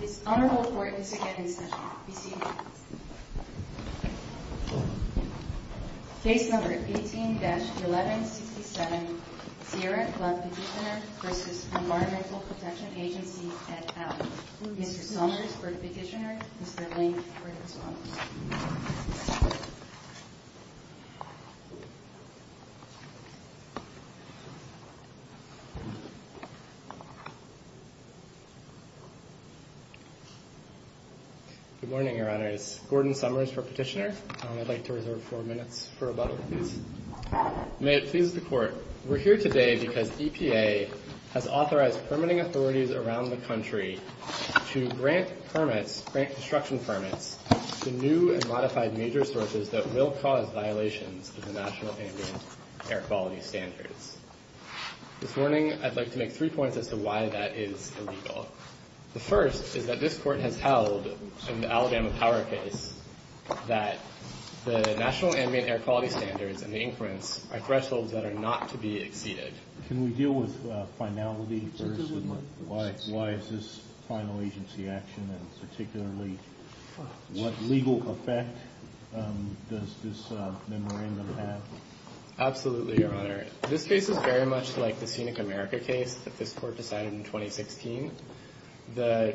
This honorable court is again in session. Be seated. Case number 18-1167, Sierra Club Petitioner v. Environmental Protection Agency, et al. Mr. Summers for the petitioner, Mr. Ling for the response. Good morning, your honors. Gordon Summers for petitioner. I'd like to reserve four minutes for rebuttal, please. May it please the court. We're here today because EPA has authorized permitting authorities around the country to grant permits, grant construction permits to new and modified major sources that will cause violations of the National Ambient Air Quality Standards. This morning, I'd like to make three points as to why that is illegal. The first is that this Court has held in the Alabama Power case that the National Ambient Air Quality Standards and the increments are thresholds that are not to be exceeded. Can we deal with finality first? Why is this final agency action? And particularly, what legal effect does this memorandum have? Absolutely, your honor. This case is very much like the Scenic America case that this Court decided in 2016. The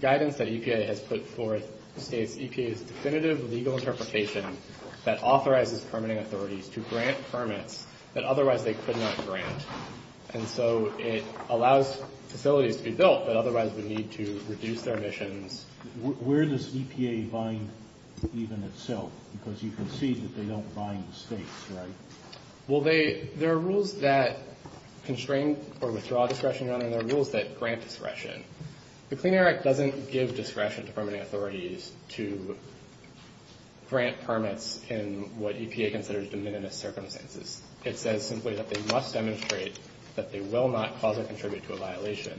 guidance that EPA has put forth states EPA's definitive legal interpretation that authorizes permitting authorities to grant permits that otherwise they could not grant. And so it allows facilities to be built that otherwise would need to reduce their emissions. Where does EPA bind even itself? Because you can see that they don't bind the states, right? Well, there are rules that constrain or withdraw discretion, your honor, and there are rules that grant discretion. The Clean Air Act doesn't give discretion to permitting authorities to grant permits in what EPA considers de minimis circumstances. It says simply that they must demonstrate that they will not cause or contribute to a violation.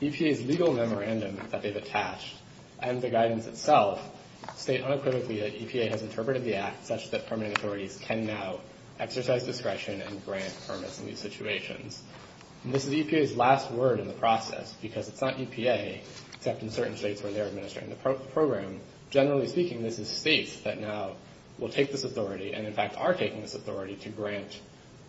EPA's legal memorandum that they've attached and the guidance itself state unequivocally that EPA has interpreted the act such that permitting authorities can now exercise discretion and grant permits in these situations. And this is EPA's last word in the process because it's not EPA, except in certain states where they're administering the program. Generally speaking, this is states that now will take this authority and, in fact, are taking this authority to grant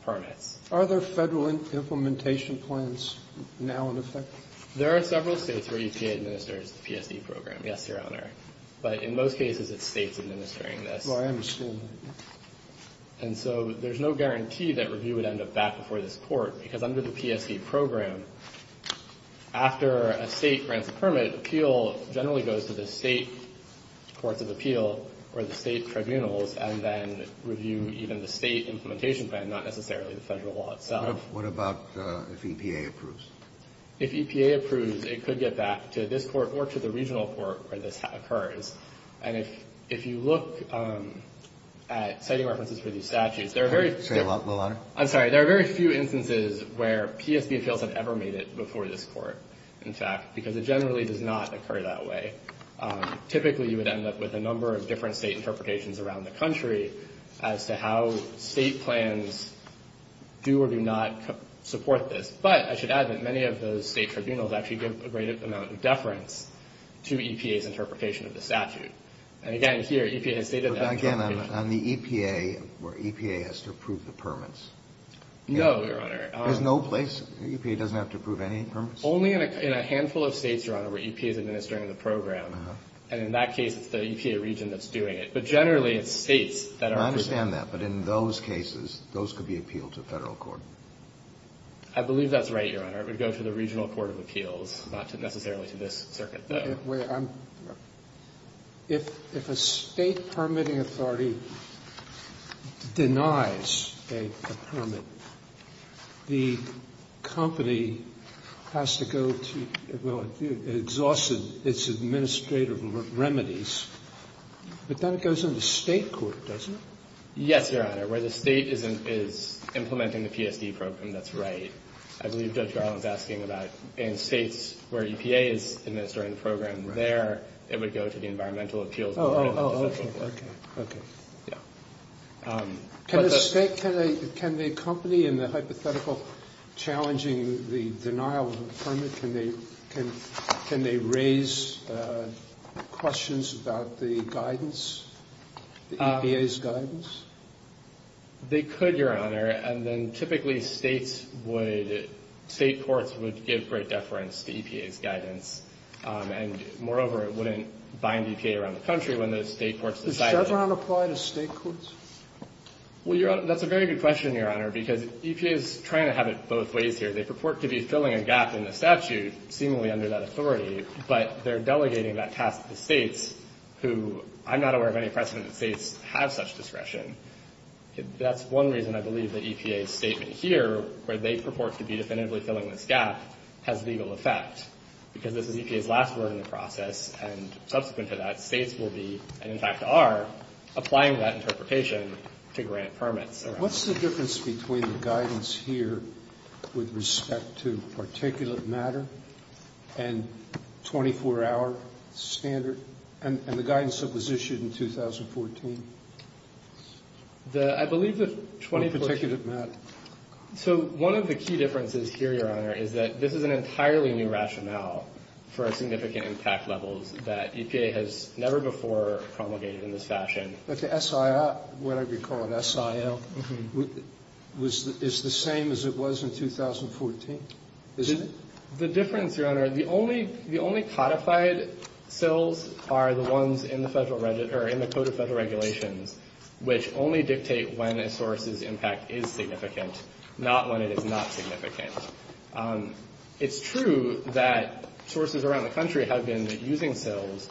permits. Are there Federal implementation plans now in effect? There are several states where EPA administers the PSD program, yes, your honor. But in most cases, it's states administering this. Well, I understand that. And so there's no guarantee that review would end up back before this Court, because under the PSD program, after a State grants a permit, appeal generally goes to the State courts of appeal or the State tribunals and then review even the State implementation plan, not necessarily the Federal law itself. What about if EPA approves? If EPA approves, it could get back to this Court or to the regional court where this occurs. And if you look at citing references for these statutes, there are very few instances where PSD appeals have ever made it before this Court, in fact, because it generally does not occur that way. Typically, you would end up with a number of different State interpretations around the country as to how State plans do or do not support this. But I should add that many of those State tribunals actually give a great amount of deference to EPA's interpretation of the statute. And again, here, EPA has stated that interpretation. But again, on the EPA, where EPA has to approve the permits? No, your honor. There's no place? EPA doesn't have to approve any permits? Only in a handful of states, your honor, where EPA is administering the program. And in that case, it's the EPA region that's doing it. But generally, it's States that are doing it. I understand that. But in those cases, those could be appealed to Federal court. I believe that's right, your honor. It would go to the regional court of appeals, not necessarily to this circuit, though. Wait. If a State permitting authority denies a permit, the company has to go to, well, it exhausts its administrative remedies. But then it goes into State court, doesn't it? Yes, your honor. Where the State is implementing the PSD program, that's right. I believe Judge Garland is asking about in States where EPA is administering the program there, it would go to the environmental appeals board. Oh, okay. Okay. Yeah. Can the company in the hypothetical challenging the denial of a permit, can they raise questions about the guidance, the EPA's guidance? They could, your honor. And then typically States would, State courts would give great deference to EPA's guidance. And moreover, it wouldn't bind EPA around the country when those State courts decided. Does that not apply to State courts? Well, your honor, that's a very good question, your honor, because EPA is trying to have it both ways here. They purport to be filling a gap in the statute, seemingly under that authority, but they're delegating that task to States who I'm not aware of any precedent that States have such discretion. That's one reason I believe that EPA's statement here, where they purport to be definitively filling this gap, has legal effect. Because this is EPA's last word in the process, and subsequent to that, States will be, and in fact are, applying that interpretation to grant permits. What's the difference between the guidance here with respect to particulate matter and 24-hour standard, and the guidance that was issued in 2014? I believe the 24- On particulate matter. So one of the key differences here, your honor, is that this is an entirely new rationale for significant impact levels that EPA has never before promulgated in this fashion. But the SIR, whatever you call it, SIL, is the same as it was in 2014, isn't it? The difference, your honor, the only codified SILs are the ones in the Federal Regulation, or in the Code of Federal Regulations, which only dictate when a source's impact is significant, not when it is not significant. It's true that sources around the country have been using SILs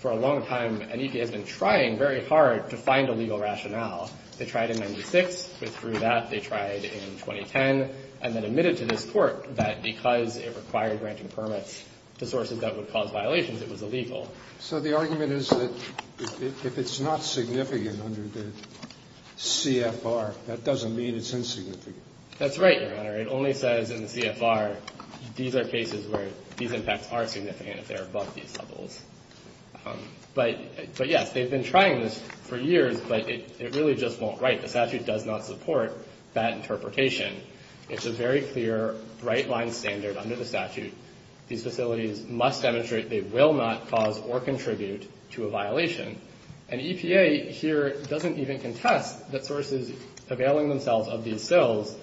for a long time, and EPA has been trying very hard to find a legal rationale. They tried in 1996, withdrew that. They tried in 2010, and then admitted to this Court that because it required granting permits to sources that would cause violations, it was illegal. So the argument is that if it's not significant under the CFR, that doesn't mean it's insignificant. That's right, your honor. It only says in the CFR, these are cases where these impacts are significant if they're above these levels. But, yes, they've been trying this for years, but it really just won't write. The statute does not support that interpretation. It's a very clear right-line standard under the statute. These facilities must demonstrate they will not cause or contribute to a violation. And EPA here doesn't even contest that sources availing themselves of these SILs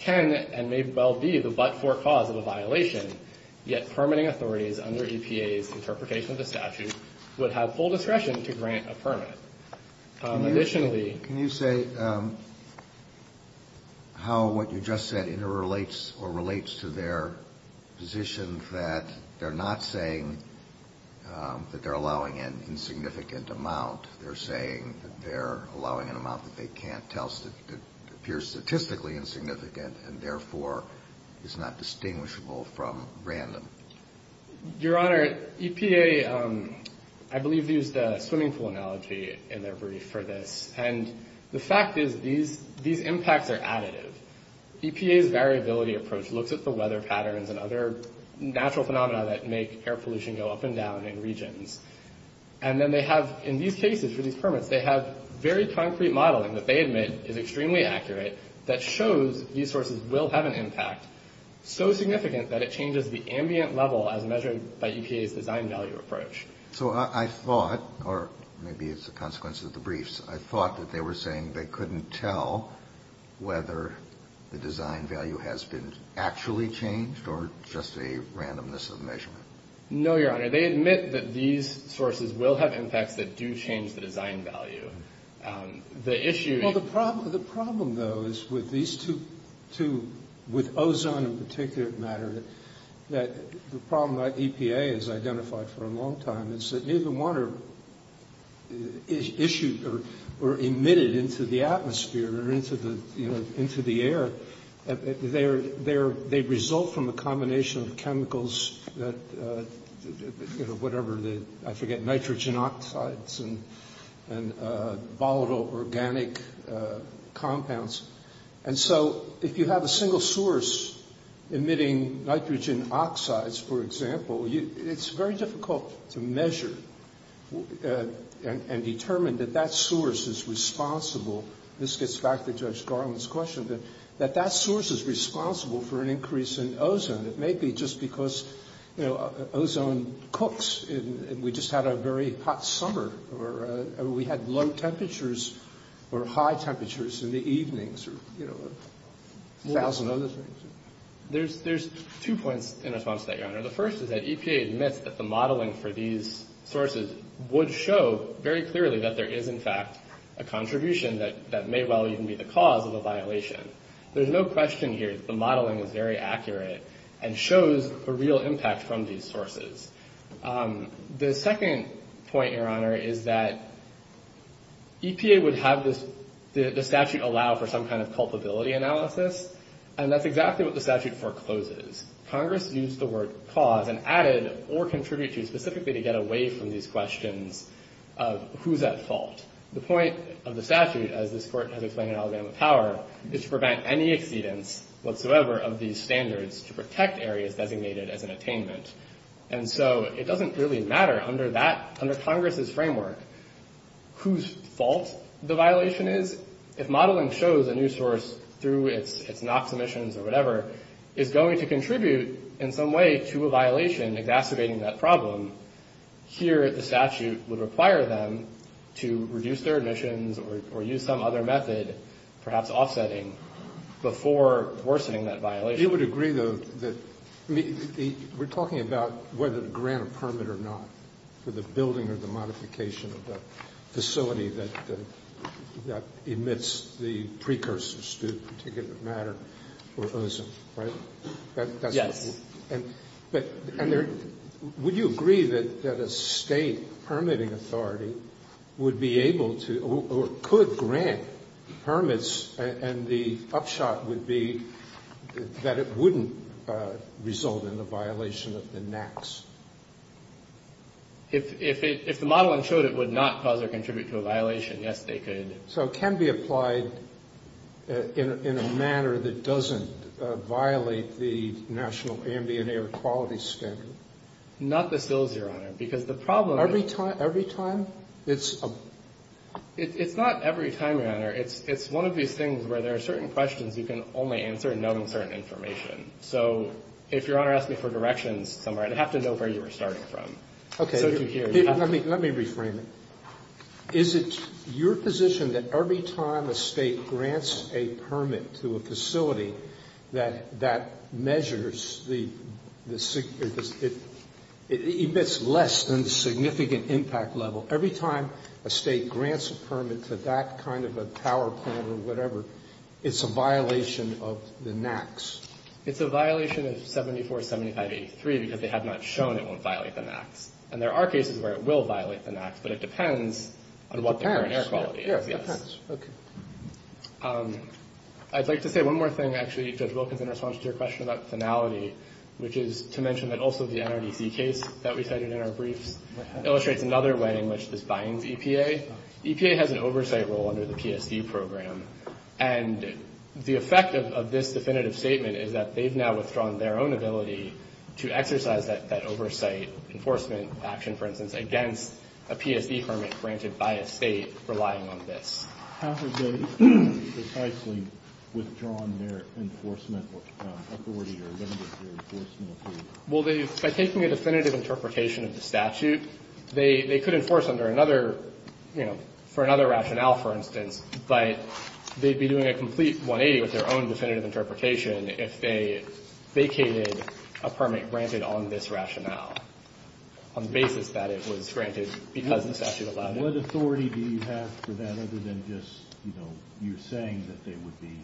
can and may well be the but-for cause of a violation, yet permitting authorities under EPA's interpretation of the statute would have full discretion to grant a permit. Additionally Can you say how what you just said interrelates or relates to their position that they're not saying that they're allowing an insignificant amount. They're saying that they're allowing an amount that they can't tell, that appears statistically insignificant and, therefore, is not distinguishable from random. Your honor, EPA, I believe, used the swimming pool analogy in their brief for this. And the fact is these impacts are additive. EPA's variability approach looks at the weather patterns and other natural phenomena that make air pollution go up and down in regions. And then they have, in these cases, for these permits, they have very concrete modeling that they admit is extremely accurate that shows these sources will have an impact so significant that it changes the ambient level as measured by EPA's design value approach. So I thought, or maybe it's a consequence of the briefs, I thought that they were saying they couldn't tell whether the design value has been actually changed or just a randomness of measurement. No, your honor, they admit that these sources will have impacts that do change the design value. Well, the problem, though, is with these two, with ozone in particular matter, that the problem that EPA has identified for a long time is that neither one is issued or emitted into the atmosphere or into the air. They result from a combination of chemicals that, you know, whatever, I forget, nitrogen oxides and volatile organic compounds. And so if you have a single source emitting nitrogen oxides, for example, it's very difficult to measure and determine that that source is responsible. This gets back to Judge Garland's question, that that source is responsible for an increase in ozone. And it may be just because, you know, ozone cooks and we just had a very hot summer or we had low temperatures or high temperatures in the evenings or, you know, a thousand other things. There's two points in response to that, your honor. The first is that EPA admits that the modeling for these sources would show very clearly that there is, in fact, a contribution that may well even be the cause of a violation. There's no question here that the modeling is very accurate and shows a real impact from these sources. The second point, your honor, is that EPA would have the statute allow for some kind of culpability analysis. And that's exactly what the statute forecloses. Congress used the word cause and added or contributed specifically to get away from these questions of who's at fault. The point of the statute, as this Court has explained in Alabama Power, is to prevent any exceedance whatsoever of these standards to protect areas designated as an attainment. And so it doesn't really matter under Congress's framework whose fault the violation is. If modeling shows a new source through its NOx emissions or whatever is going to contribute in some way to a violation exacerbating that problem, here the statute would require them to reduce their emissions or use some other method, perhaps offsetting, before worsening that violation. Roberts. You would agree, though, that we're talking about whether to grant a permit or not for the building or the modification of the facility that emits the precursors to a particular matter or ozone, right? Yes. But would you agree that a State permitting authority would be able to or could grant permits and the upshot would be that it wouldn't result in a violation of the NOx? If the modeling showed it would not cause or contribute to a violation, yes, they could. So it can be applied in a manner that doesn't violate the national ambient air quality standard? Not the SILs, Your Honor, because the problem is Every time? It's not every time, Your Honor. It's one of these things where there are certain questions you can only answer knowing certain information. So if Your Honor asked me for directions somewhere, I'd have to know where you were starting from. Okay. Let me reframe it. Is it your position that every time a State grants a permit to a facility that measures the it emits less than the significant impact level? Every time a State grants a permit to that kind of a power plant or whatever, it's a violation of the NOx? It's a violation of 747583 because they have not shown it won't violate the NOx. And there are cases where it will violate the NOx, but it depends on what the current air quality is. It depends. Yes. It depends. Okay. I'd like to say one more thing, actually, Judge Wilkins, in response to your question about finality, which is to mention that also the NRDC case that we cited in our briefs illustrates another way in which this binds EPA. EPA has an oversight role under the PSD program, and the effect of this definitive statement is that they've now withdrawn their own ability to exercise that oversight enforcement action, for instance, against a PSD permit granted by a State relying on this. How have they precisely withdrawn their enforcement authority or limited their enforcement authority? Well, by taking a definitive interpretation of the statute, they could enforce under another, you know, for another rationale, for instance, but they'd be doing a complete 180 with their own definitive interpretation if they vacated a permit granted on this rationale on the basis that it was granted because the statute allowed it. What authority do you have for that other than just, you know, you're saying that they would be?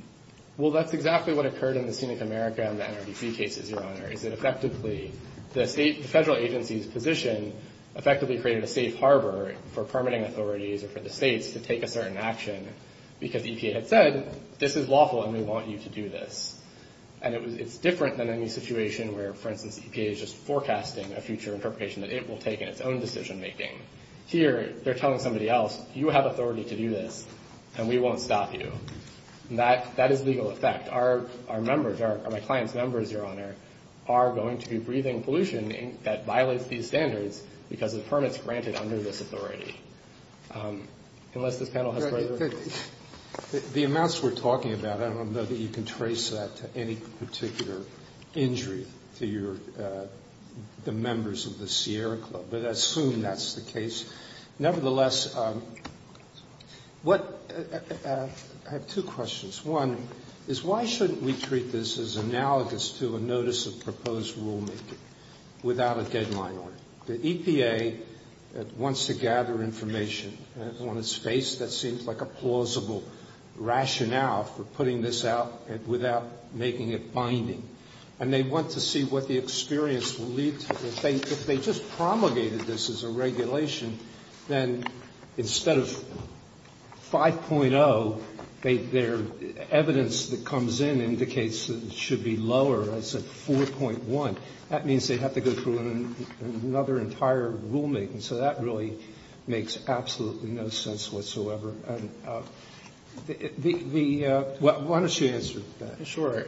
Well, that's exactly what occurred in the Scenic America and the NRDC cases, Your Honor, is that effectively the State federal agency's position effectively created a safe harbor for permitting authorities or for the States to take a certain action because the EPA had said, this is lawful and we want you to do this. And it's different than any situation where, for instance, the EPA is just forecasting a future interpretation that it will take in its own decision making. Here, they're telling somebody else, you have authority to do this and we won't stop you. That is legal effect. Our members, my client's members, Your Honor, are going to be breathing pollution that violates these standards because of the permits granted under this authority. Unless this panel has further questions. The amounts we're talking about, I don't know that you can trace that to any particular injury to your the members of the Sierra Club, but I assume that's the case. Nevertheless, what, I have two questions. One is why shouldn't we treat this as analogous to a notice of proposed rulemaking without a deadline order? The EPA wants to gather information on a space that seems like a plausible rationale for putting this out without making it binding. And they want to see what the experience will lead to. If they just promulgated this as a regulation, then instead of 5.0, their evidence that comes in indicates that it should be lower. I said 4.1. That means they have to go through another entire rulemaking. So that really makes absolutely no sense whatsoever. Why don't you answer that? Sure.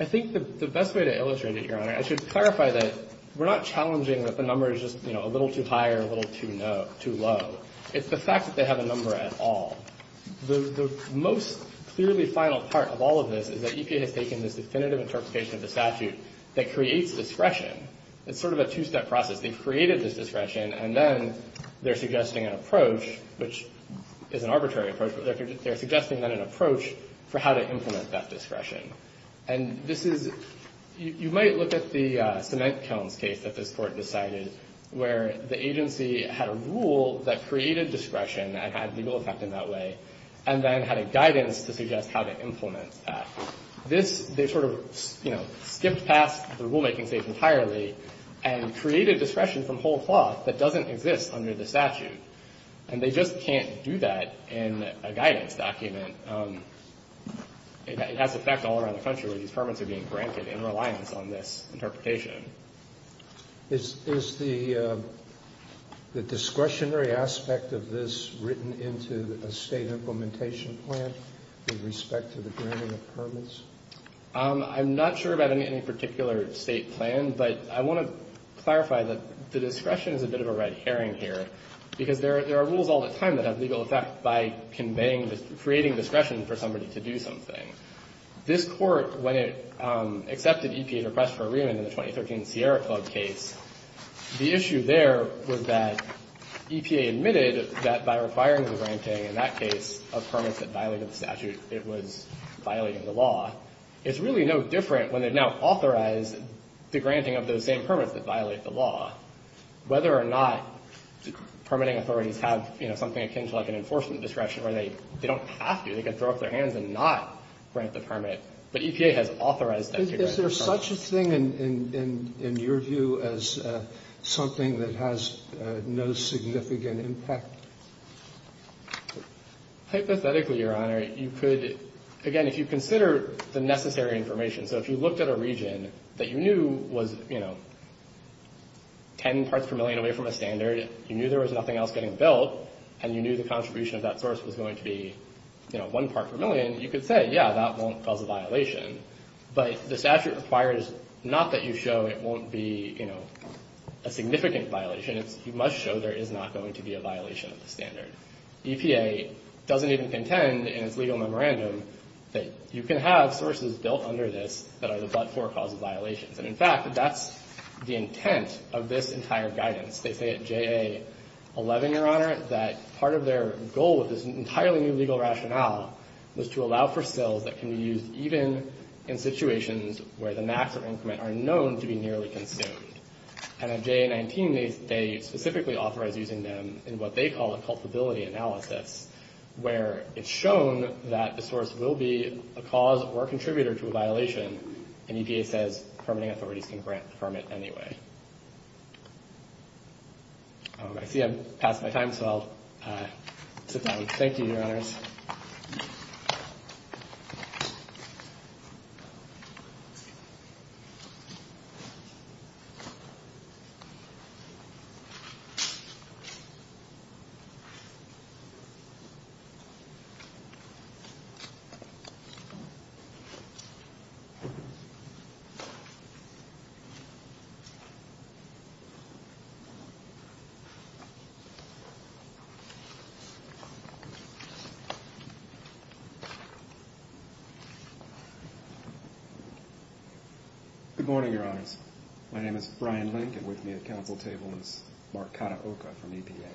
I think the best way to illustrate it, Your Honor, I should clarify that we're not challenging that the number is just, you know, a little too high or a little too low. It's the fact that they have a number at all. The most clearly final part of all of this is that EPA has taken this definitive interpretation of the statute that creates discretion. It's sort of a two-step process. They've created this discretion, and then they're suggesting an approach, which is an arbitrary approach, but they're suggesting then an approach for how to implement that discretion. And this is, you might look at the cement cones case that this Court decided, where the agency had a rule that created discretion and had legal effect in that way and then had a guidance to suggest how to implement that. This, they sort of, you know, skipped past the rulemaking stage entirely and created discretion from whole cloth that doesn't exist under the statute. And they just can't do that in a guidance document. It has effect all around the country. These permits are being granted in reliance on this interpretation. Is the discretionary aspect of this written into a state implementation plan with respect to the granting of permits? I'm not sure about any particular state plan, but I want to clarify that the discretion is a bit of a red herring here because there are rules all the time that have legal effect by conveying, creating discretion for somebody to do something. This Court, when it accepted EPA's request for a remand in the 2013 Sierra Club case, the issue there was that EPA admitted that by requiring the granting, in that case, of permits that violated the statute, it was violating the law. It's really no different when they've now authorized the granting of those same permits that violate the law. Whether or not permitting authorities have, you know, something akin to like an enforcement discretion where they don't have to, they can throw up their hands and not grant the permit, but EPA has authorized them to grant the permit. Is there such a thing in your view as something that has no significant impact? Hypothetically, Your Honor, you could, again, if you consider the necessary information, so if you looked at a region that you knew was, you know, 10 parts per million away from a standard, you knew there was nothing else getting built, and you knew the contribution of that source was going to be, you know, one part per million, you could say, yeah, that won't cause a violation. But the statute requires not that you show it won't be, you know, a significant violation. You must show there is not going to be a violation of the standard. EPA doesn't even contend in its legal memorandum that you can have sources built under this that are the but-for cause of violations. And, in fact, that's the intent of this entire guidance. They say at JA-11, Your Honor, that part of their goal with this entirely new legal rationale was to allow for sales that can be used even in situations where the maximum increment are known to be nearly consumed. And at JA-19, they specifically authorize using them in what they call a culpability analysis, where it's shown that the source will be a cause or a contributor to a violation, and EPA says permitting authorities can grant the permit anyway. I see I've passed my time, so I'll sit down. Thank you. Good morning, Your Honors. My name is Brian Link, and with me at council table is Mark Kataoka from EPA.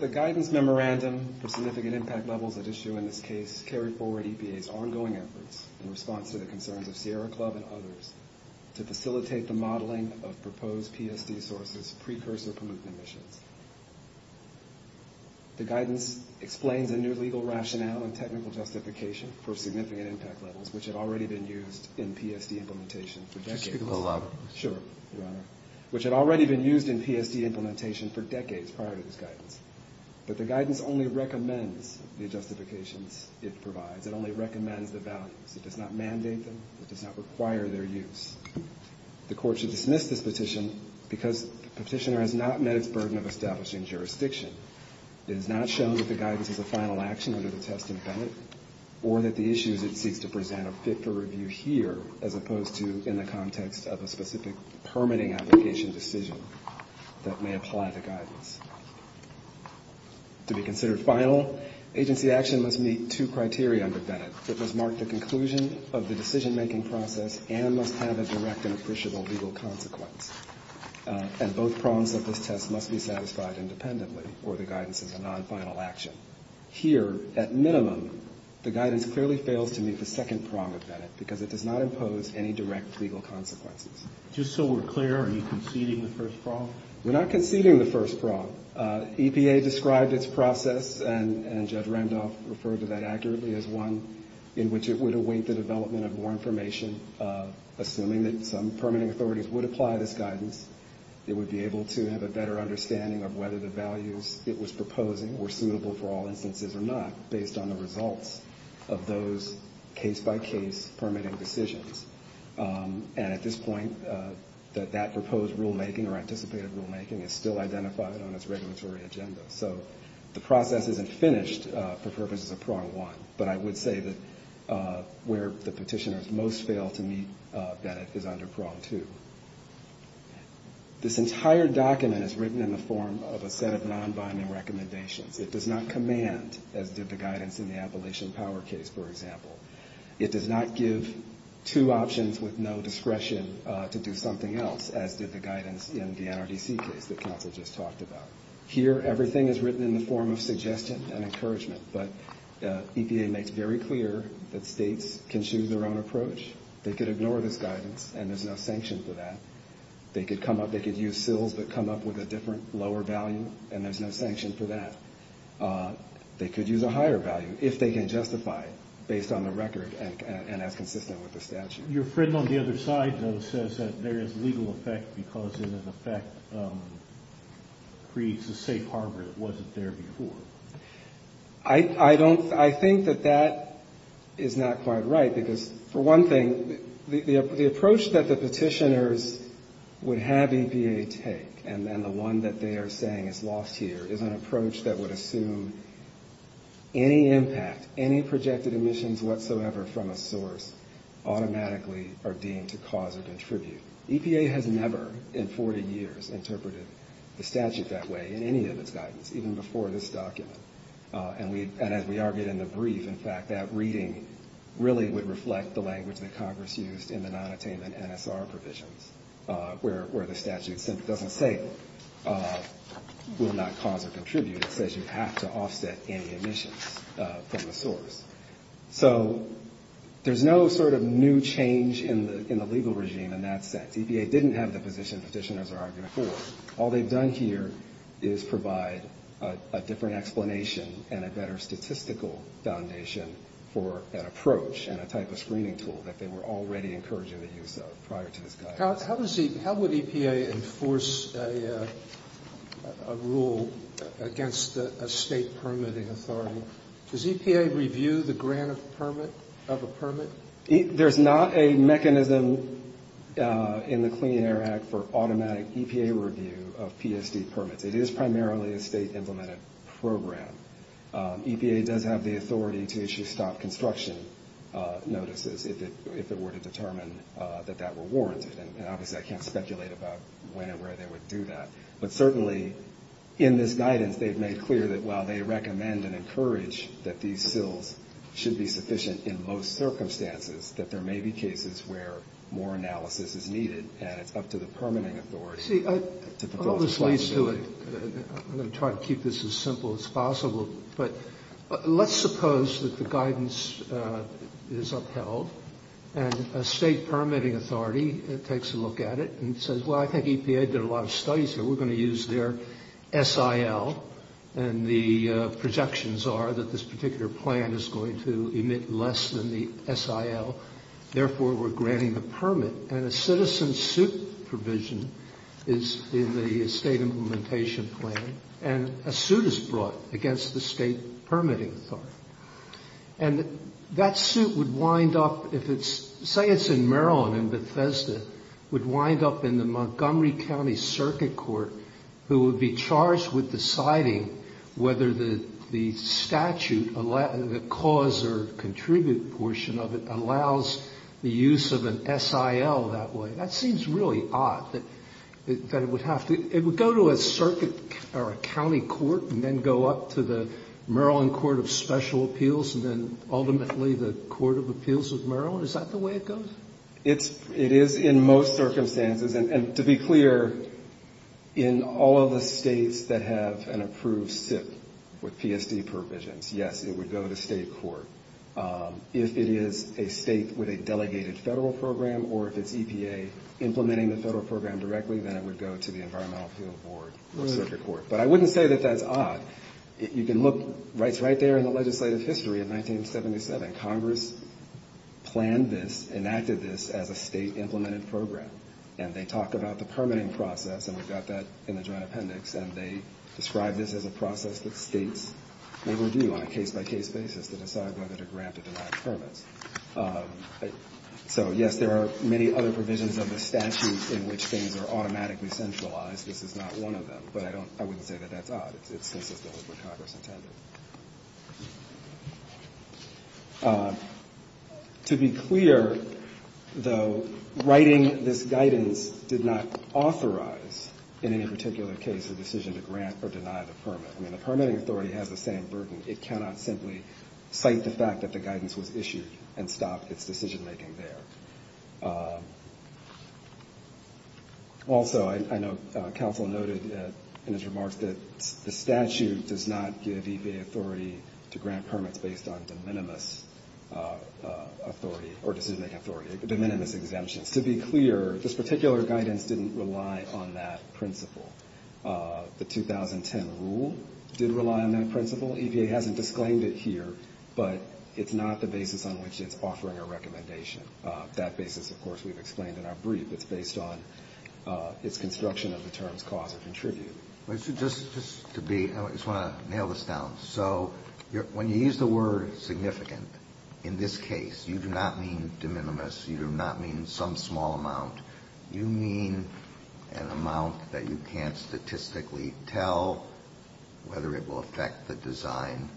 The guidance memorandum for significant impact levels at issue in this case carried forward EPA's ongoing efforts in response to the concerns of Sierra Club and others to facilitate the modeling of proposed PSD sources precursor permitting missions. The guidance explains a new legal rationale and technical justification for significant impact levels, which had already been used in PSD implementation for decades. Sure, Your Honor. Which had already been used in PSD implementation for decades prior to this guidance. But the guidance only recommends the justifications it provides. It only recommends the values. It does not mandate them. It does not require their use. The court should dismiss this petition because the petitioner has not met its burden of establishing jurisdiction. It has not shown that the guidance is a final action under the test and benefit or that the issues it seeks to present are fit for review here as opposed to in the context of a specific permitting application decision that may apply the guidance. To be considered final, agency action must meet two criteria under Bennett. It must mark the conclusion of the decision-making process and must have a direct and appreciable legal consequence. And both prongs of this test must be satisfied independently or the guidance is a non-final action. Here, at minimum, the guidance clearly fails to meet the second prong of Bennett because it does not impose any direct legal consequences. Just so we're clear, are you conceding the first prong? We're not conceding the first prong. EPA described its process, and Judge Randolph referred to that accurately, as one in which it would await the development of more information. Assuming that some permitting authorities would apply this guidance, it would be able to have a better understanding of whether the values it was proposing were suitable for all instances or not based on the results of those case-by-case permitting decisions. And at this point, that proposed rulemaking or anticipated rulemaking is still identified on its regulatory agenda. So the process isn't finished for purposes of prong one, but I would say that where the petitioners most fail to meet Bennett is under prong two. This entire document is written in the form of a set of non-binding recommendations. It does not command, as did the guidance in the Appalachian Power case, for example. It does not give two options with no discretion to do something else, as did the guidance in the NRDC case that counsel just talked about. Here, everything is written in the form of suggestion and encouragement, but EPA makes very clear that states can choose their own approach, they could ignore this guidance, and there's no sanction for that. They could use SILs but come up with a different, lower value, and there's no sanction for that. They could use a higher value if they can justify it based on the record and as consistent with the statute. Your friend on the other side, though, says that there is legal effect because it, in effect, creates a safe harbor that wasn't there before. I don't, I think that that is not quite right, because for one thing, the approach that the petitioners would have EPA take, and then the one that they are saying is lost here, is an approach that would assume any impact, any projected emissions whatsoever from a source automatically are deemed to cause or contribute. EPA has never in 40 years interpreted the statute that way in any of its guidance, even before this document, and as we argued in the brief, in fact, that reading really would reflect the language that Congress used in the nonattainment NSR provisions, where the statute simply doesn't say will not cause or contribute, it says you have to offset any emissions from the source. So there's no sort of new change in the legal regime in that sense. And I think it's important to note that EPA didn't have the position petitioners are arguing for. All they've done here is provide a different explanation and a better statistical foundation for that approach and a type of screening tool that they were already encouraging the use of prior to this guidance. Sotomayor How does the, how would EPA enforce a rule against a State permitting authority? Does EPA review the grant of permit, of a permit? There's not a mechanism in the Clean Air Act for automatic EPA review of PSD permits. It is primarily a State implemented program. EPA does have the authority to issue stop construction notices if it were to determine that that were warranted. And obviously I can't speculate about when and where they would do that. But certainly in this guidance they've made clear that while they recommend and encourage that these SILs should be sufficient in most circumstances, that there may be cases where more analysis is needed and it's up to the permitting authority to fulfill its responsibility. See, all this leads to it, I'm going to try to keep this as simple as possible, but let's suppose that the guidance is upheld and a State permitting authority takes a look at it and says, well, I think EPA did a lot of studies here. We're going to use their SIL. And the projections are that this particular plan is going to emit less than the SIL. Therefore, we're granting the permit. And a citizen suit provision is in the State implementation plan. And a suit is brought against the State permitting authority. And that suit would wind up if it's, say it's in Maryland, in Bethesda, would wind up in the Montgomery County Circuit Court who would be charged with deciding whether the statute, the cause or contribute portion of it, allows the use of an SIL that way. That seems really odd that it would have to, it would go to a circuit or a county court and then go up to the Maryland Court of Special Appeals and then ultimately the Court of Appeals of Maryland. Is that the way it goes? It is in most circumstances. And to be clear, in all of the States that have an approved SIP with PSD provisions, yes, it would go to State court. If it is a State with a delegated Federal program or if it's EPA implementing the Federal program directly, then it would go to the Environmental Field Board or I wouldn't say that that's odd. You can look, it's right there in the legislative history of 1977. Congress planned this, enacted this as a State implemented program. And they talked about the permitting process, and we've got that in the Joint Appendix. And they described this as a process that States may review on a case-by-case basis to decide whether to grant or deny permits. So, yes, there are many other provisions of the statute in which things are automatically centralized. This is not one of them. But I wouldn't say that that's odd. It's consistent with what Congress intended. To be clear, though, writing this guidance did not authorize in any particular case a decision to grant or deny the permit. I mean, the permitting authority has the same burden. It cannot simply cite the fact that the guidance was issued and stop its decision-making there. Also, I know counsel noted in his remarks that the statute does not give EPA authority to grant permits based on de minimis authority or decision-making authority, de minimis exemptions. To be clear, this particular guidance didn't rely on that principle. The 2010 rule did rely on that principle. EPA hasn't disclaimed it here, but it's not the basis on which it's offering a recommendation. That basis, of course, we've explained in our brief. It's based on its construction of the terms cause or contribute. Kennedy. Just to be, I just want to nail this down. So when you use the word significant, in this case, you do not mean de minimis. You do not mean some small amount. You mean an amount that you can't statistically tell whether it will affect the design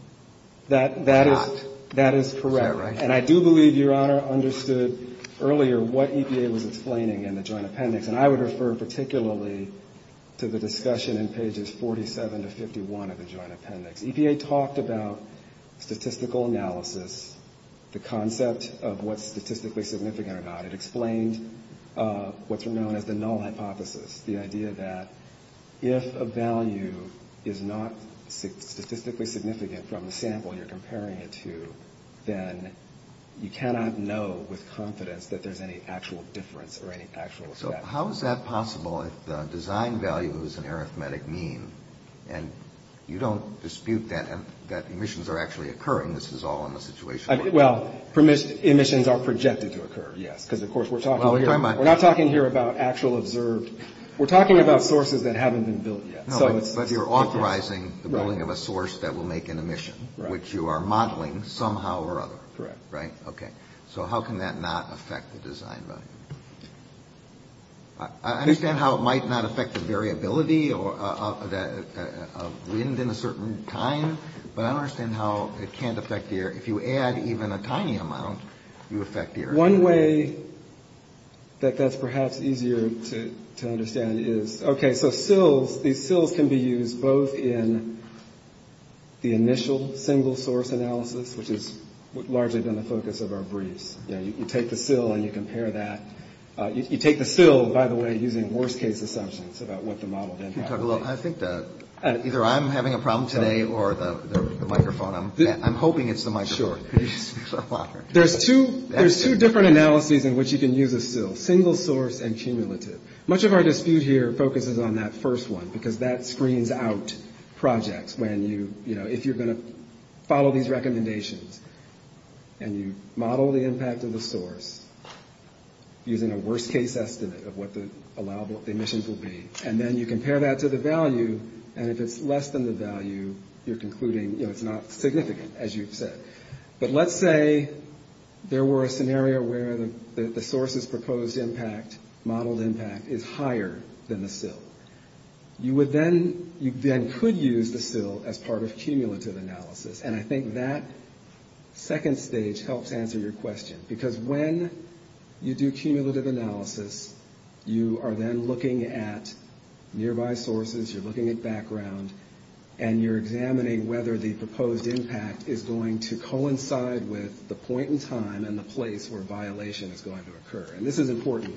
or not. That is correct. Is that right? And I do believe Your Honor understood earlier what EPA was explaining in the joint appendix. And I would refer particularly to the discussion in pages 47 to 51 of the joint appendix. EPA talked about statistical analysis, the concept of what's statistically significant or not. It explained what's known as the null hypothesis, the idea that if a value is not statistically significant from the sample you're comparing it to, then you cannot know with confidence that there's any actual difference or any actual effect. So how is that possible if the design value is an arithmetic mean and you don't dispute that emissions are actually occurring? This is all in the situation. Well, emissions are projected to occur, yes, because, of course, we're talking here about actual observed. We're talking about sources that haven't been built yet. But you're authorizing the building of a source that will make an emission, which you are modeling somehow or other. Correct. Right? Okay. So how can that not affect the design value? I understand how it might not affect the variability of wind in a certain time, but I don't understand how it can't affect the air. If you add even a tiny amount, you affect the air. One way that that's perhaps easier to understand is, okay, so SILs, these SILs can be used both in the initial single-source analysis, which has largely been the focus of our briefs. You take the SIL and you compare that. You take the SIL, by the way, using worst-case assumptions about what the model then has. I think that either I'm having a problem today or the microphone. I'm hoping it's the microphone. Sure. There's two different analyses in which you can use a SIL, single-source and cumulative. Much of our dispute here focuses on that first one because that screens out projects when you, you know, if you're going to follow these recommendations and you model the impact of the source using a worst-case estimate of what the emissions will be, and then you compare that to the value, and if it's less than the value, you're concluding, you know, it's not significant, as you've said. But let's say there were a scenario where the source's proposed impact, modeled impact, is higher than the SIL. You would then, you then could use the SIL as part of cumulative analysis, and I think that second stage helps answer your question, because when you do cumulative analysis, you are then looking at nearby sources, you're looking at background, and you're trying to coincide with the point in time and the place where violation is going to occur. And this is important.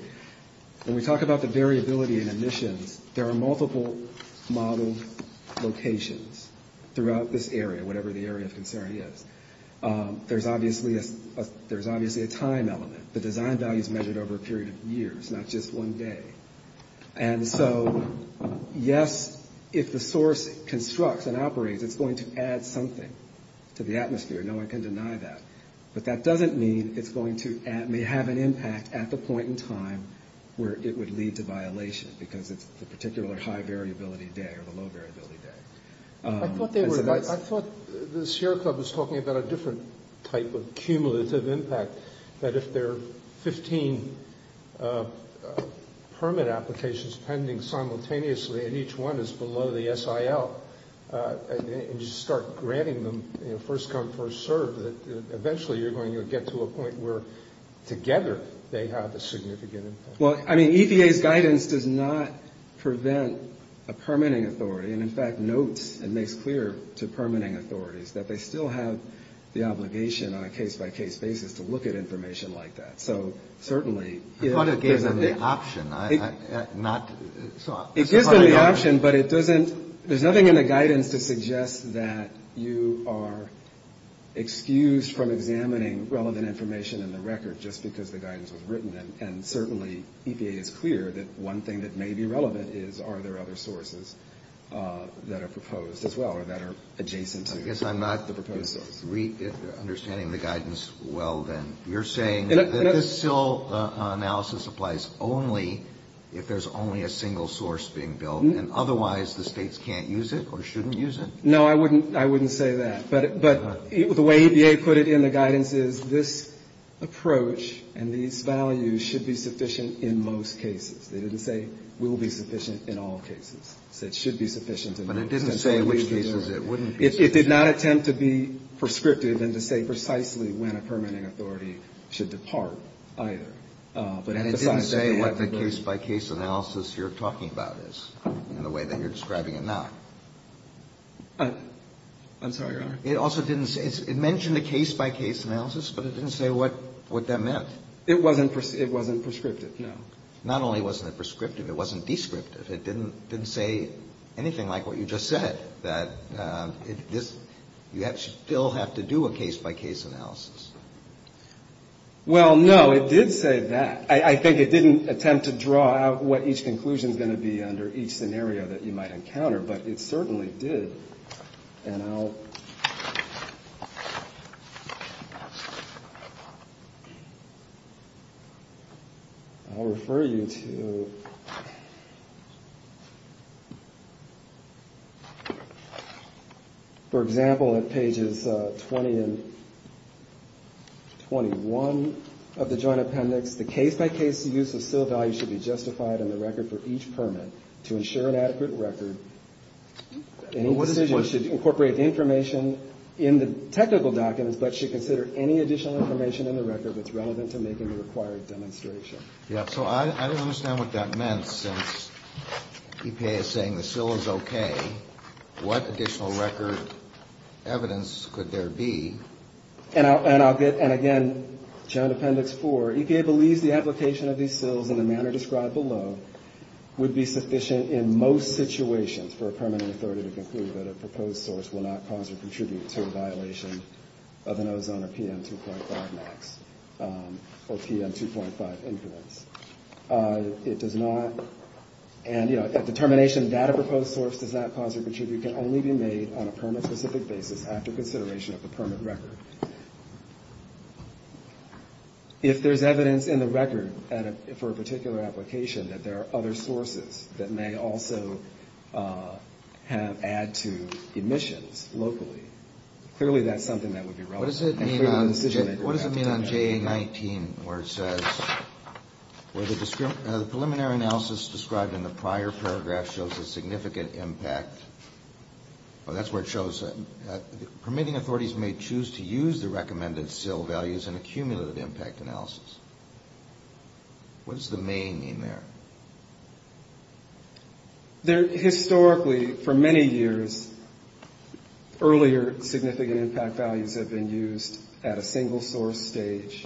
When we talk about the variability in emissions, there are multiple model locations throughout this area, whatever the area of concern is. There's obviously a time element. The design value is measured over a period of years, not just one day. And so, yes, if the source constructs and operates, it's going to add something to the atmosphere. No one can deny that. But that doesn't mean it's going to have an impact at the point in time where it would lead to violation, because it's the particular high variability day or the low variability day. I thought the share club was talking about a different type of cumulative impact, that if there are 15 permit applications pending simultaneously, and each one is below the first come, first served, that eventually you're going to get to a point where, together, they have a significant impact. Well, I mean, EPA's guidance does not prevent a permitting authority, and in fact notes and makes clear to permitting authorities that they still have the obligation on a case-by-case basis to look at information like that. So certainly... I thought it gave them the option, not... It gives them the option, but it doesn't... that you are excused from examining relevant information in the record just because the guidance was written. And certainly, EPA is clear that one thing that may be relevant is, are there other sources that are proposed as well or that are adjacent to... I guess I'm not the proposed source. Understanding the guidance well, then, you're saying that this still analysis applies only if there's only a single source being built, and otherwise the states can't use it or shouldn't use it? No, I wouldn't say that. But the way EPA put it in the guidance is, this approach and these values should be sufficient in most cases. They didn't say, will be sufficient in all cases. They said, should be sufficient in most cases. But it didn't say in which cases it wouldn't be sufficient. It did not attempt to be prescriptive and to say precisely when a permitting authority should depart either. And it didn't say what the case-by-case analysis you're talking about is in the way that you're I'm sorry, Your Honor. It also didn't say, it mentioned a case-by-case analysis, but it didn't say what that meant. It wasn't prescriptive, no. Not only wasn't it prescriptive, it wasn't descriptive. It didn't say anything like what you just said, that you still have to do a case-by-case analysis. Well, no, it did say that. I think it didn't attempt to draw out what each conclusion is going to be under each scenario that you might encounter, but it certainly did. And I'll refer you to, for example, at pages 20 and 21 of the Joint Appendix, the case-by-case use of seal value should be justified in the record for each permit to ensure an adequate record. Any decision should incorporate the information in the technical documents, but should consider any additional information in the record that's relevant to making the required demonstration. Yeah, so I don't understand what that meant, since EPA is saying the seal is okay. What additional record evidence could there be? And I'll get, and again, Joint Appendix 4, EPA believes the application of these seals in the manner described below would be sufficient in most situations for a permanent authority to conclude that a proposed source will not cause or contribute to a violation of an Ozone or PM 2.5 max, or PM 2.5 influence. It does not, and, you know, a determination that a proposed source does not cause or contribute can only be made on a permit-specific basis after consideration of the permit record. If there's evidence in the record for a particular application that there are other sources that may also have, add to emissions locally, clearly that's something that would be relevant. What does it mean on JA-19 where it says, where the preliminary analysis described in the prior paragraph shows a significant impact, that's where it shows, permitting authorities may choose to use the recommended seal values in a cumulative impact analysis. What does the main mean there? Historically, for many years, earlier significant impact values have been used at a single source stage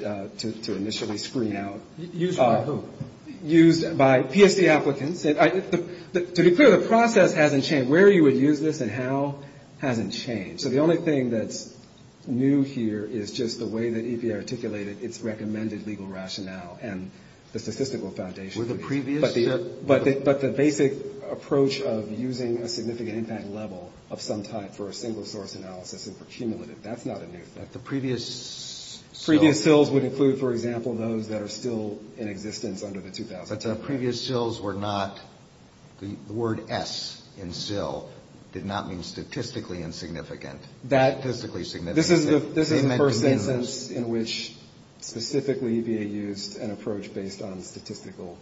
to initially screen out. Used by who? Used by PSC applicants. To be clear, the process hasn't changed. Where you would use this and how hasn't changed. So the only thing that's new here is just the way that EPA articulated its recommended legal rationale and the statistical foundation. But the basic approach of using a significant impact level of some type for a single source analysis and for cumulative, that's not a new thing. Previous SILs would include, for example, those that are still in existence under the 2000 Act. But the previous SILs were not, the word S in SIL did not mean statistically insignificant. This is the first instance in which specifically EPA used an approach based on statistical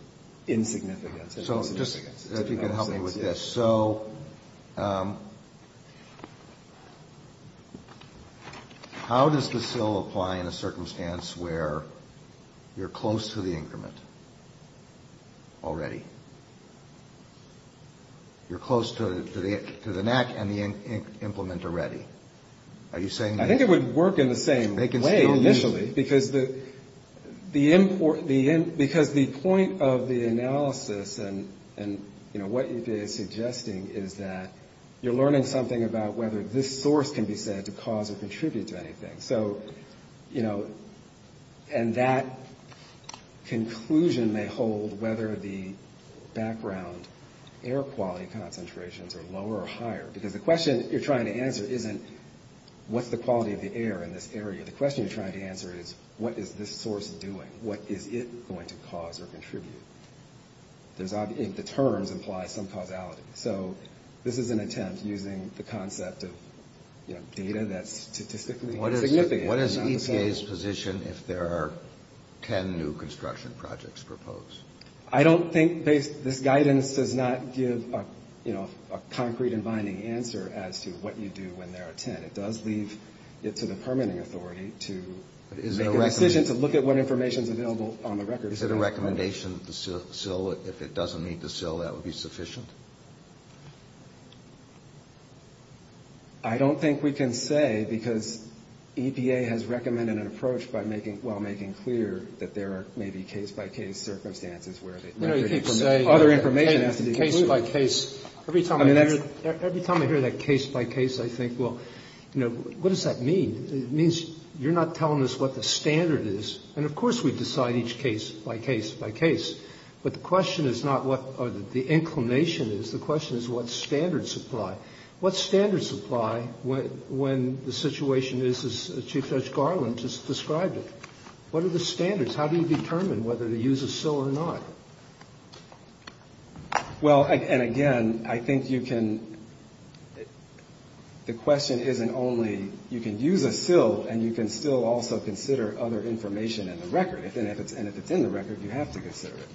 insignificance. If you could help me with this. So how does the SIL apply in a circumstance where you're close to the increment already? You're close to the NAC and the implement already. Are you saying that? I think it would work in the same way initially. Because the point of the analysis and, you know, what EPA is suggesting is that you're learning something about whether this source can be said to cause or contribute to anything. So, you know, and that conclusion may hold whether the background air quality concentrations are lower or higher. Because the question you're trying to answer isn't what's the quality of the air in this area. The question you're trying to answer is what is this source doing? What is it going to cause or contribute? The terms imply some causality. So this is an attempt using the concept of, you know, data that's statistically insignificant. What is EPA's position if there are 10 new construction projects proposed? I don't think this guidance does not give, you know, a concrete and binding answer as to what you do when there are 10. It does leave it to the permitting authority to make a decision to look at what information is available on the record. Is it a recommendation that the CIL, if it doesn't meet the CIL, that would be sufficient? I don't think we can say because EPA has recommended an approach while making clear that there may be case-by-case circumstances. You know, you keep saying case-by-case. Every time I hear that case-by-case, I think, well, you know, what does that mean? It means you're not telling us what the standard is. And, of course, we decide each case by case by case. But the question is not what the inclination is. The question is what standards apply. What standards apply when the situation is as Chief Judge Garland just described it? What are the standards? How do you determine whether to use a CIL or not? Well, and again, I think you can, the question isn't only, you can use a CIL and you can still also consider other information in the record. And if it's in the record, you have to consider it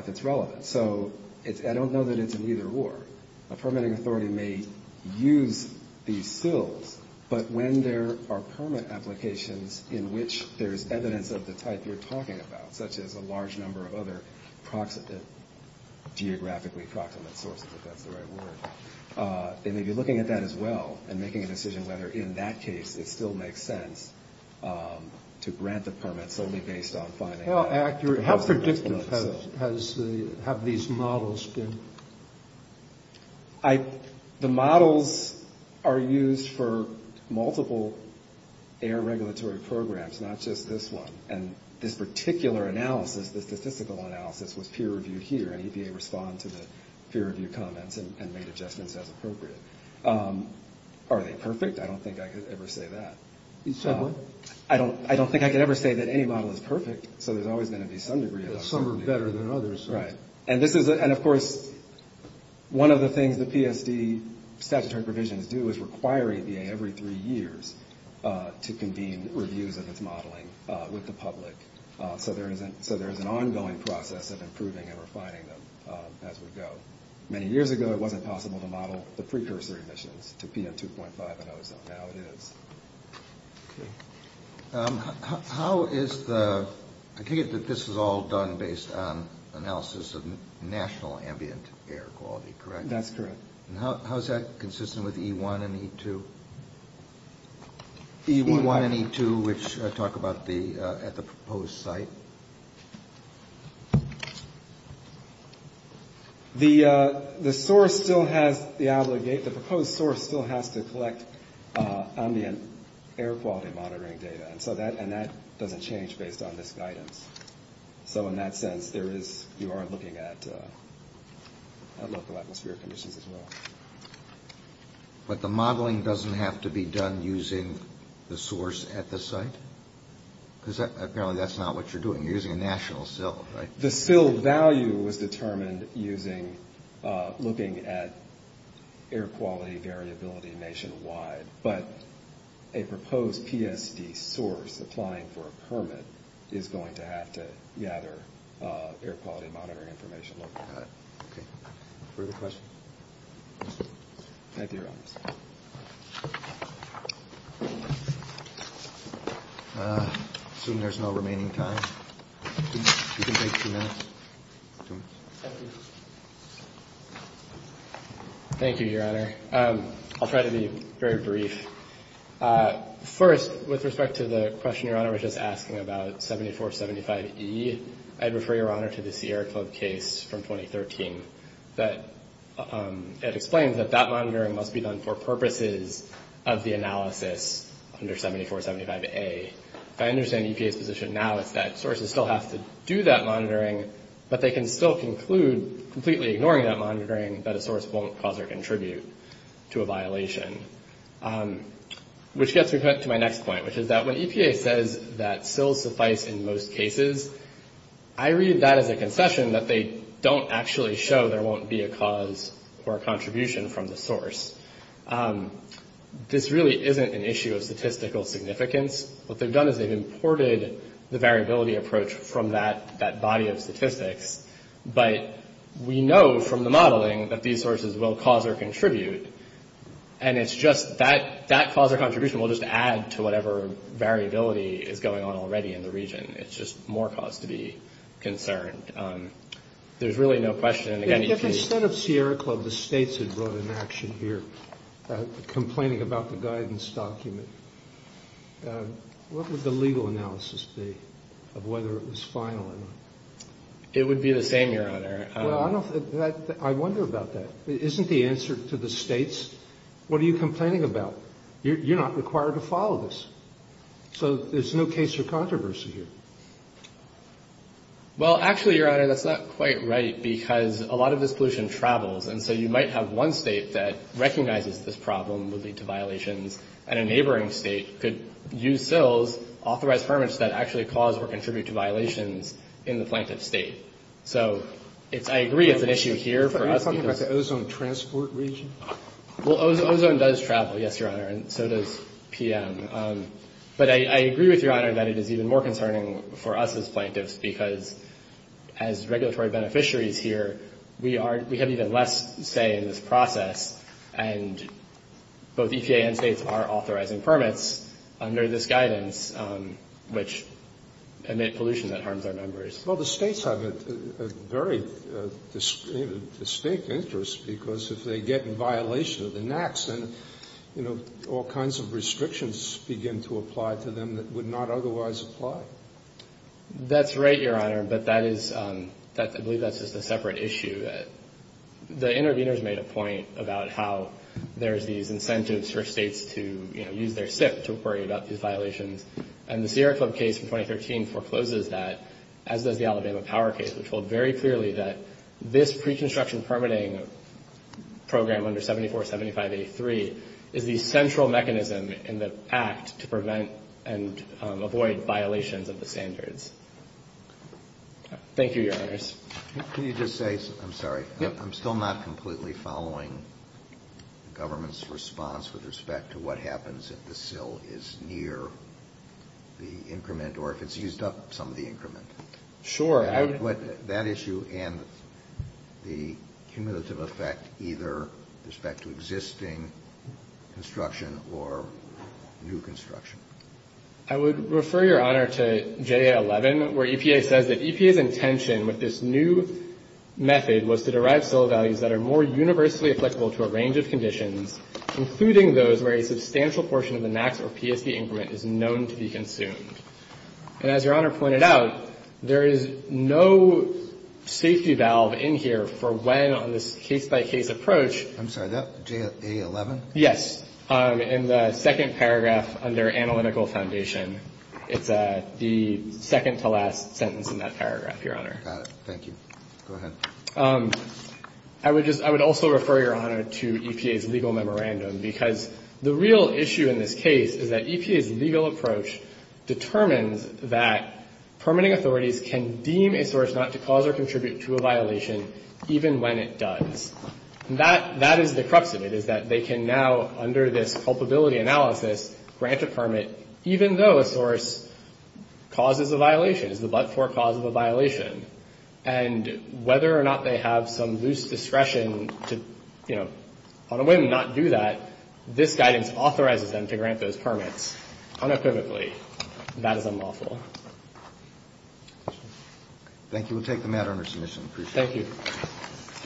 if it's relevant. So I don't know that it's an either or. A permitting authority may use these CILs, but when there are permit applications in which there's evidence of the type you're talking about, such as a large number of other geographically proximate sources, if that's the right word, they may be looking at that as well and making a decision whether, in that case, it still makes sense to grant the permits only based on finding out. How accurate, how predictive have these models been? The models are used for multiple air regulatory programs, not just this one. And this particular analysis, the statistical analysis, was peer-reviewed here, and EPA responded to the peer-reviewed comments and made adjustments as appropriate. Are they perfect? I don't think I could ever say that. You said what? I don't think I could ever say that any model is perfect, so there's always going to be some degree of uncertainty. Some are better than others. Right. And, of course, one of the things the PSD statutory provisions do is require EPA every three years to convene reviews of its modeling with the public, so there is an ongoing process of improving and refining them as we go. Many years ago, it wasn't possible to model the precursor emissions to PM2.5 and ozone. Now it is. Okay. How is the – I take it that this is all done based on analysis of national ambient air quality, correct? That's correct. And how is that consistent with E1 and E2? E1 and E2, which talk about the – at the proposed site. The source still has the – the proposed source still has to collect ambient air quality monitoring data, and that doesn't change based on this guidance. So in that sense, there is – you are looking at local atmospheric conditions as well. But the modeling doesn't have to be done using the source at the site? Because apparently that's not what you're doing. You're using a national SIL, right? The SIL value was determined using – looking at air quality variability nationwide, but a proposed PSD source applying for a permit is going to have to gather air quality monitoring information locally. Further questions? Thank you, Your Honors. I assume there's no remaining time. You can take two minutes. Thank you, Your Honor. I'll try to be very brief. First, with respect to the question Your Honor was just asking about 7475E, I'd refer Your Honor to the Sierra Club case from 2013. That – it explains that that monitoring must be done for purposes of the analysis under 7475A. If I understand EPA's position now, it's that sources still have to do that monitoring, but they can still conclude, completely ignoring that monitoring, that a source won't cause or contribute to a violation. Which gets me to my next point, which is that when EPA says that SILs suffice in most cases, I read that as a concession that they don't actually show there won't be a cause or a contribution from the source. This really isn't an issue of statistical significance. What they've done is they've imported the variability approach from that body of statistics, but we know from the modeling that these sources will cause or contribute, and it's just that cause or contribution will just add to whatever variability is going on already in the region. It's just more cause to be concerned. There's really no question. If instead of Sierra Club, the states had brought an action here complaining about the guidance document, what would the legal analysis be of whether it was final or not? It would be the same, Your Honor. Well, I wonder about that. Isn't the answer to the states, what are you complaining about? You're not required to follow this. So there's no case for controversy here. Well, actually, Your Honor, that's not quite right, because a lot of this pollution travels, and so you might have one state that recognizes this problem would lead to violations, and a neighboring state could use SILs, authorize permits that actually cause or contribute to violations in the plaintiff's state. So I agree it's an issue here for us. Are you talking about the ozone transport region? Well, ozone does travel, yes, Your Honor, and so does PM. But I agree with Your Honor that it is even more concerning for us as plaintiffs, because as regulatory beneficiaries here, we have even less say in this process, and both EPA and states are authorizing permits under this guidance, which emit pollution that harms our members. Well, the states have a very distinct interest, because if they get in violation and all kinds of restrictions begin to apply to them that would not otherwise apply. That's right, Your Honor, but I believe that's just a separate issue. The interveners made a point about how there's these incentives for states to use their SIP to worry about these violations, and the Sierra Club case from 2013 forecloses that, as does the Alabama Power case, which hold very clearly that this pre-construction permitting program under 7475A3 is the central mechanism in the act to prevent and avoid violations of the standards. Thank you, Your Honors. Can you just say, I'm sorry, I'm still not completely following the government's response with respect to what happens if the SIL is near the increment or if it's used up some of the increment. Sure. That issue and the cumulative effect either with respect to existing construction or new construction. I would refer, Your Honor, to J.A. 11, where EPA says that EPA's intention with this new method was to derive SIL values that are more universally applicable to a range of conditions, including those where a substantial portion of the NAAQS or PSD increment is known to be consumed. And as Your Honor pointed out, there is no safety valve in here for when on this case-by-case approach. I'm sorry. J.A. 11? Yes. In the second paragraph under analytical foundation. It's the second to last sentence in that paragraph, Your Honor. Got it. Thank you. Go ahead. I would also refer, Your Honor, to EPA's legal memorandum, because the real issue in this case is that EPA's legal approach determines that permitting authorities can deem a source not to cause or contribute to a violation even when it does. That is the crux of it, is that they can now, under this culpability analysis, grant a permit even though a source causes a violation, is the but-for cause of a violation. And whether or not they have some loose discretion to, you know, on a whim not do that, this guidance authorizes them to grant those permits unequivocally. That is unlawful. Thank you. We'll take the matter under submission. Appreciate it. Thank you.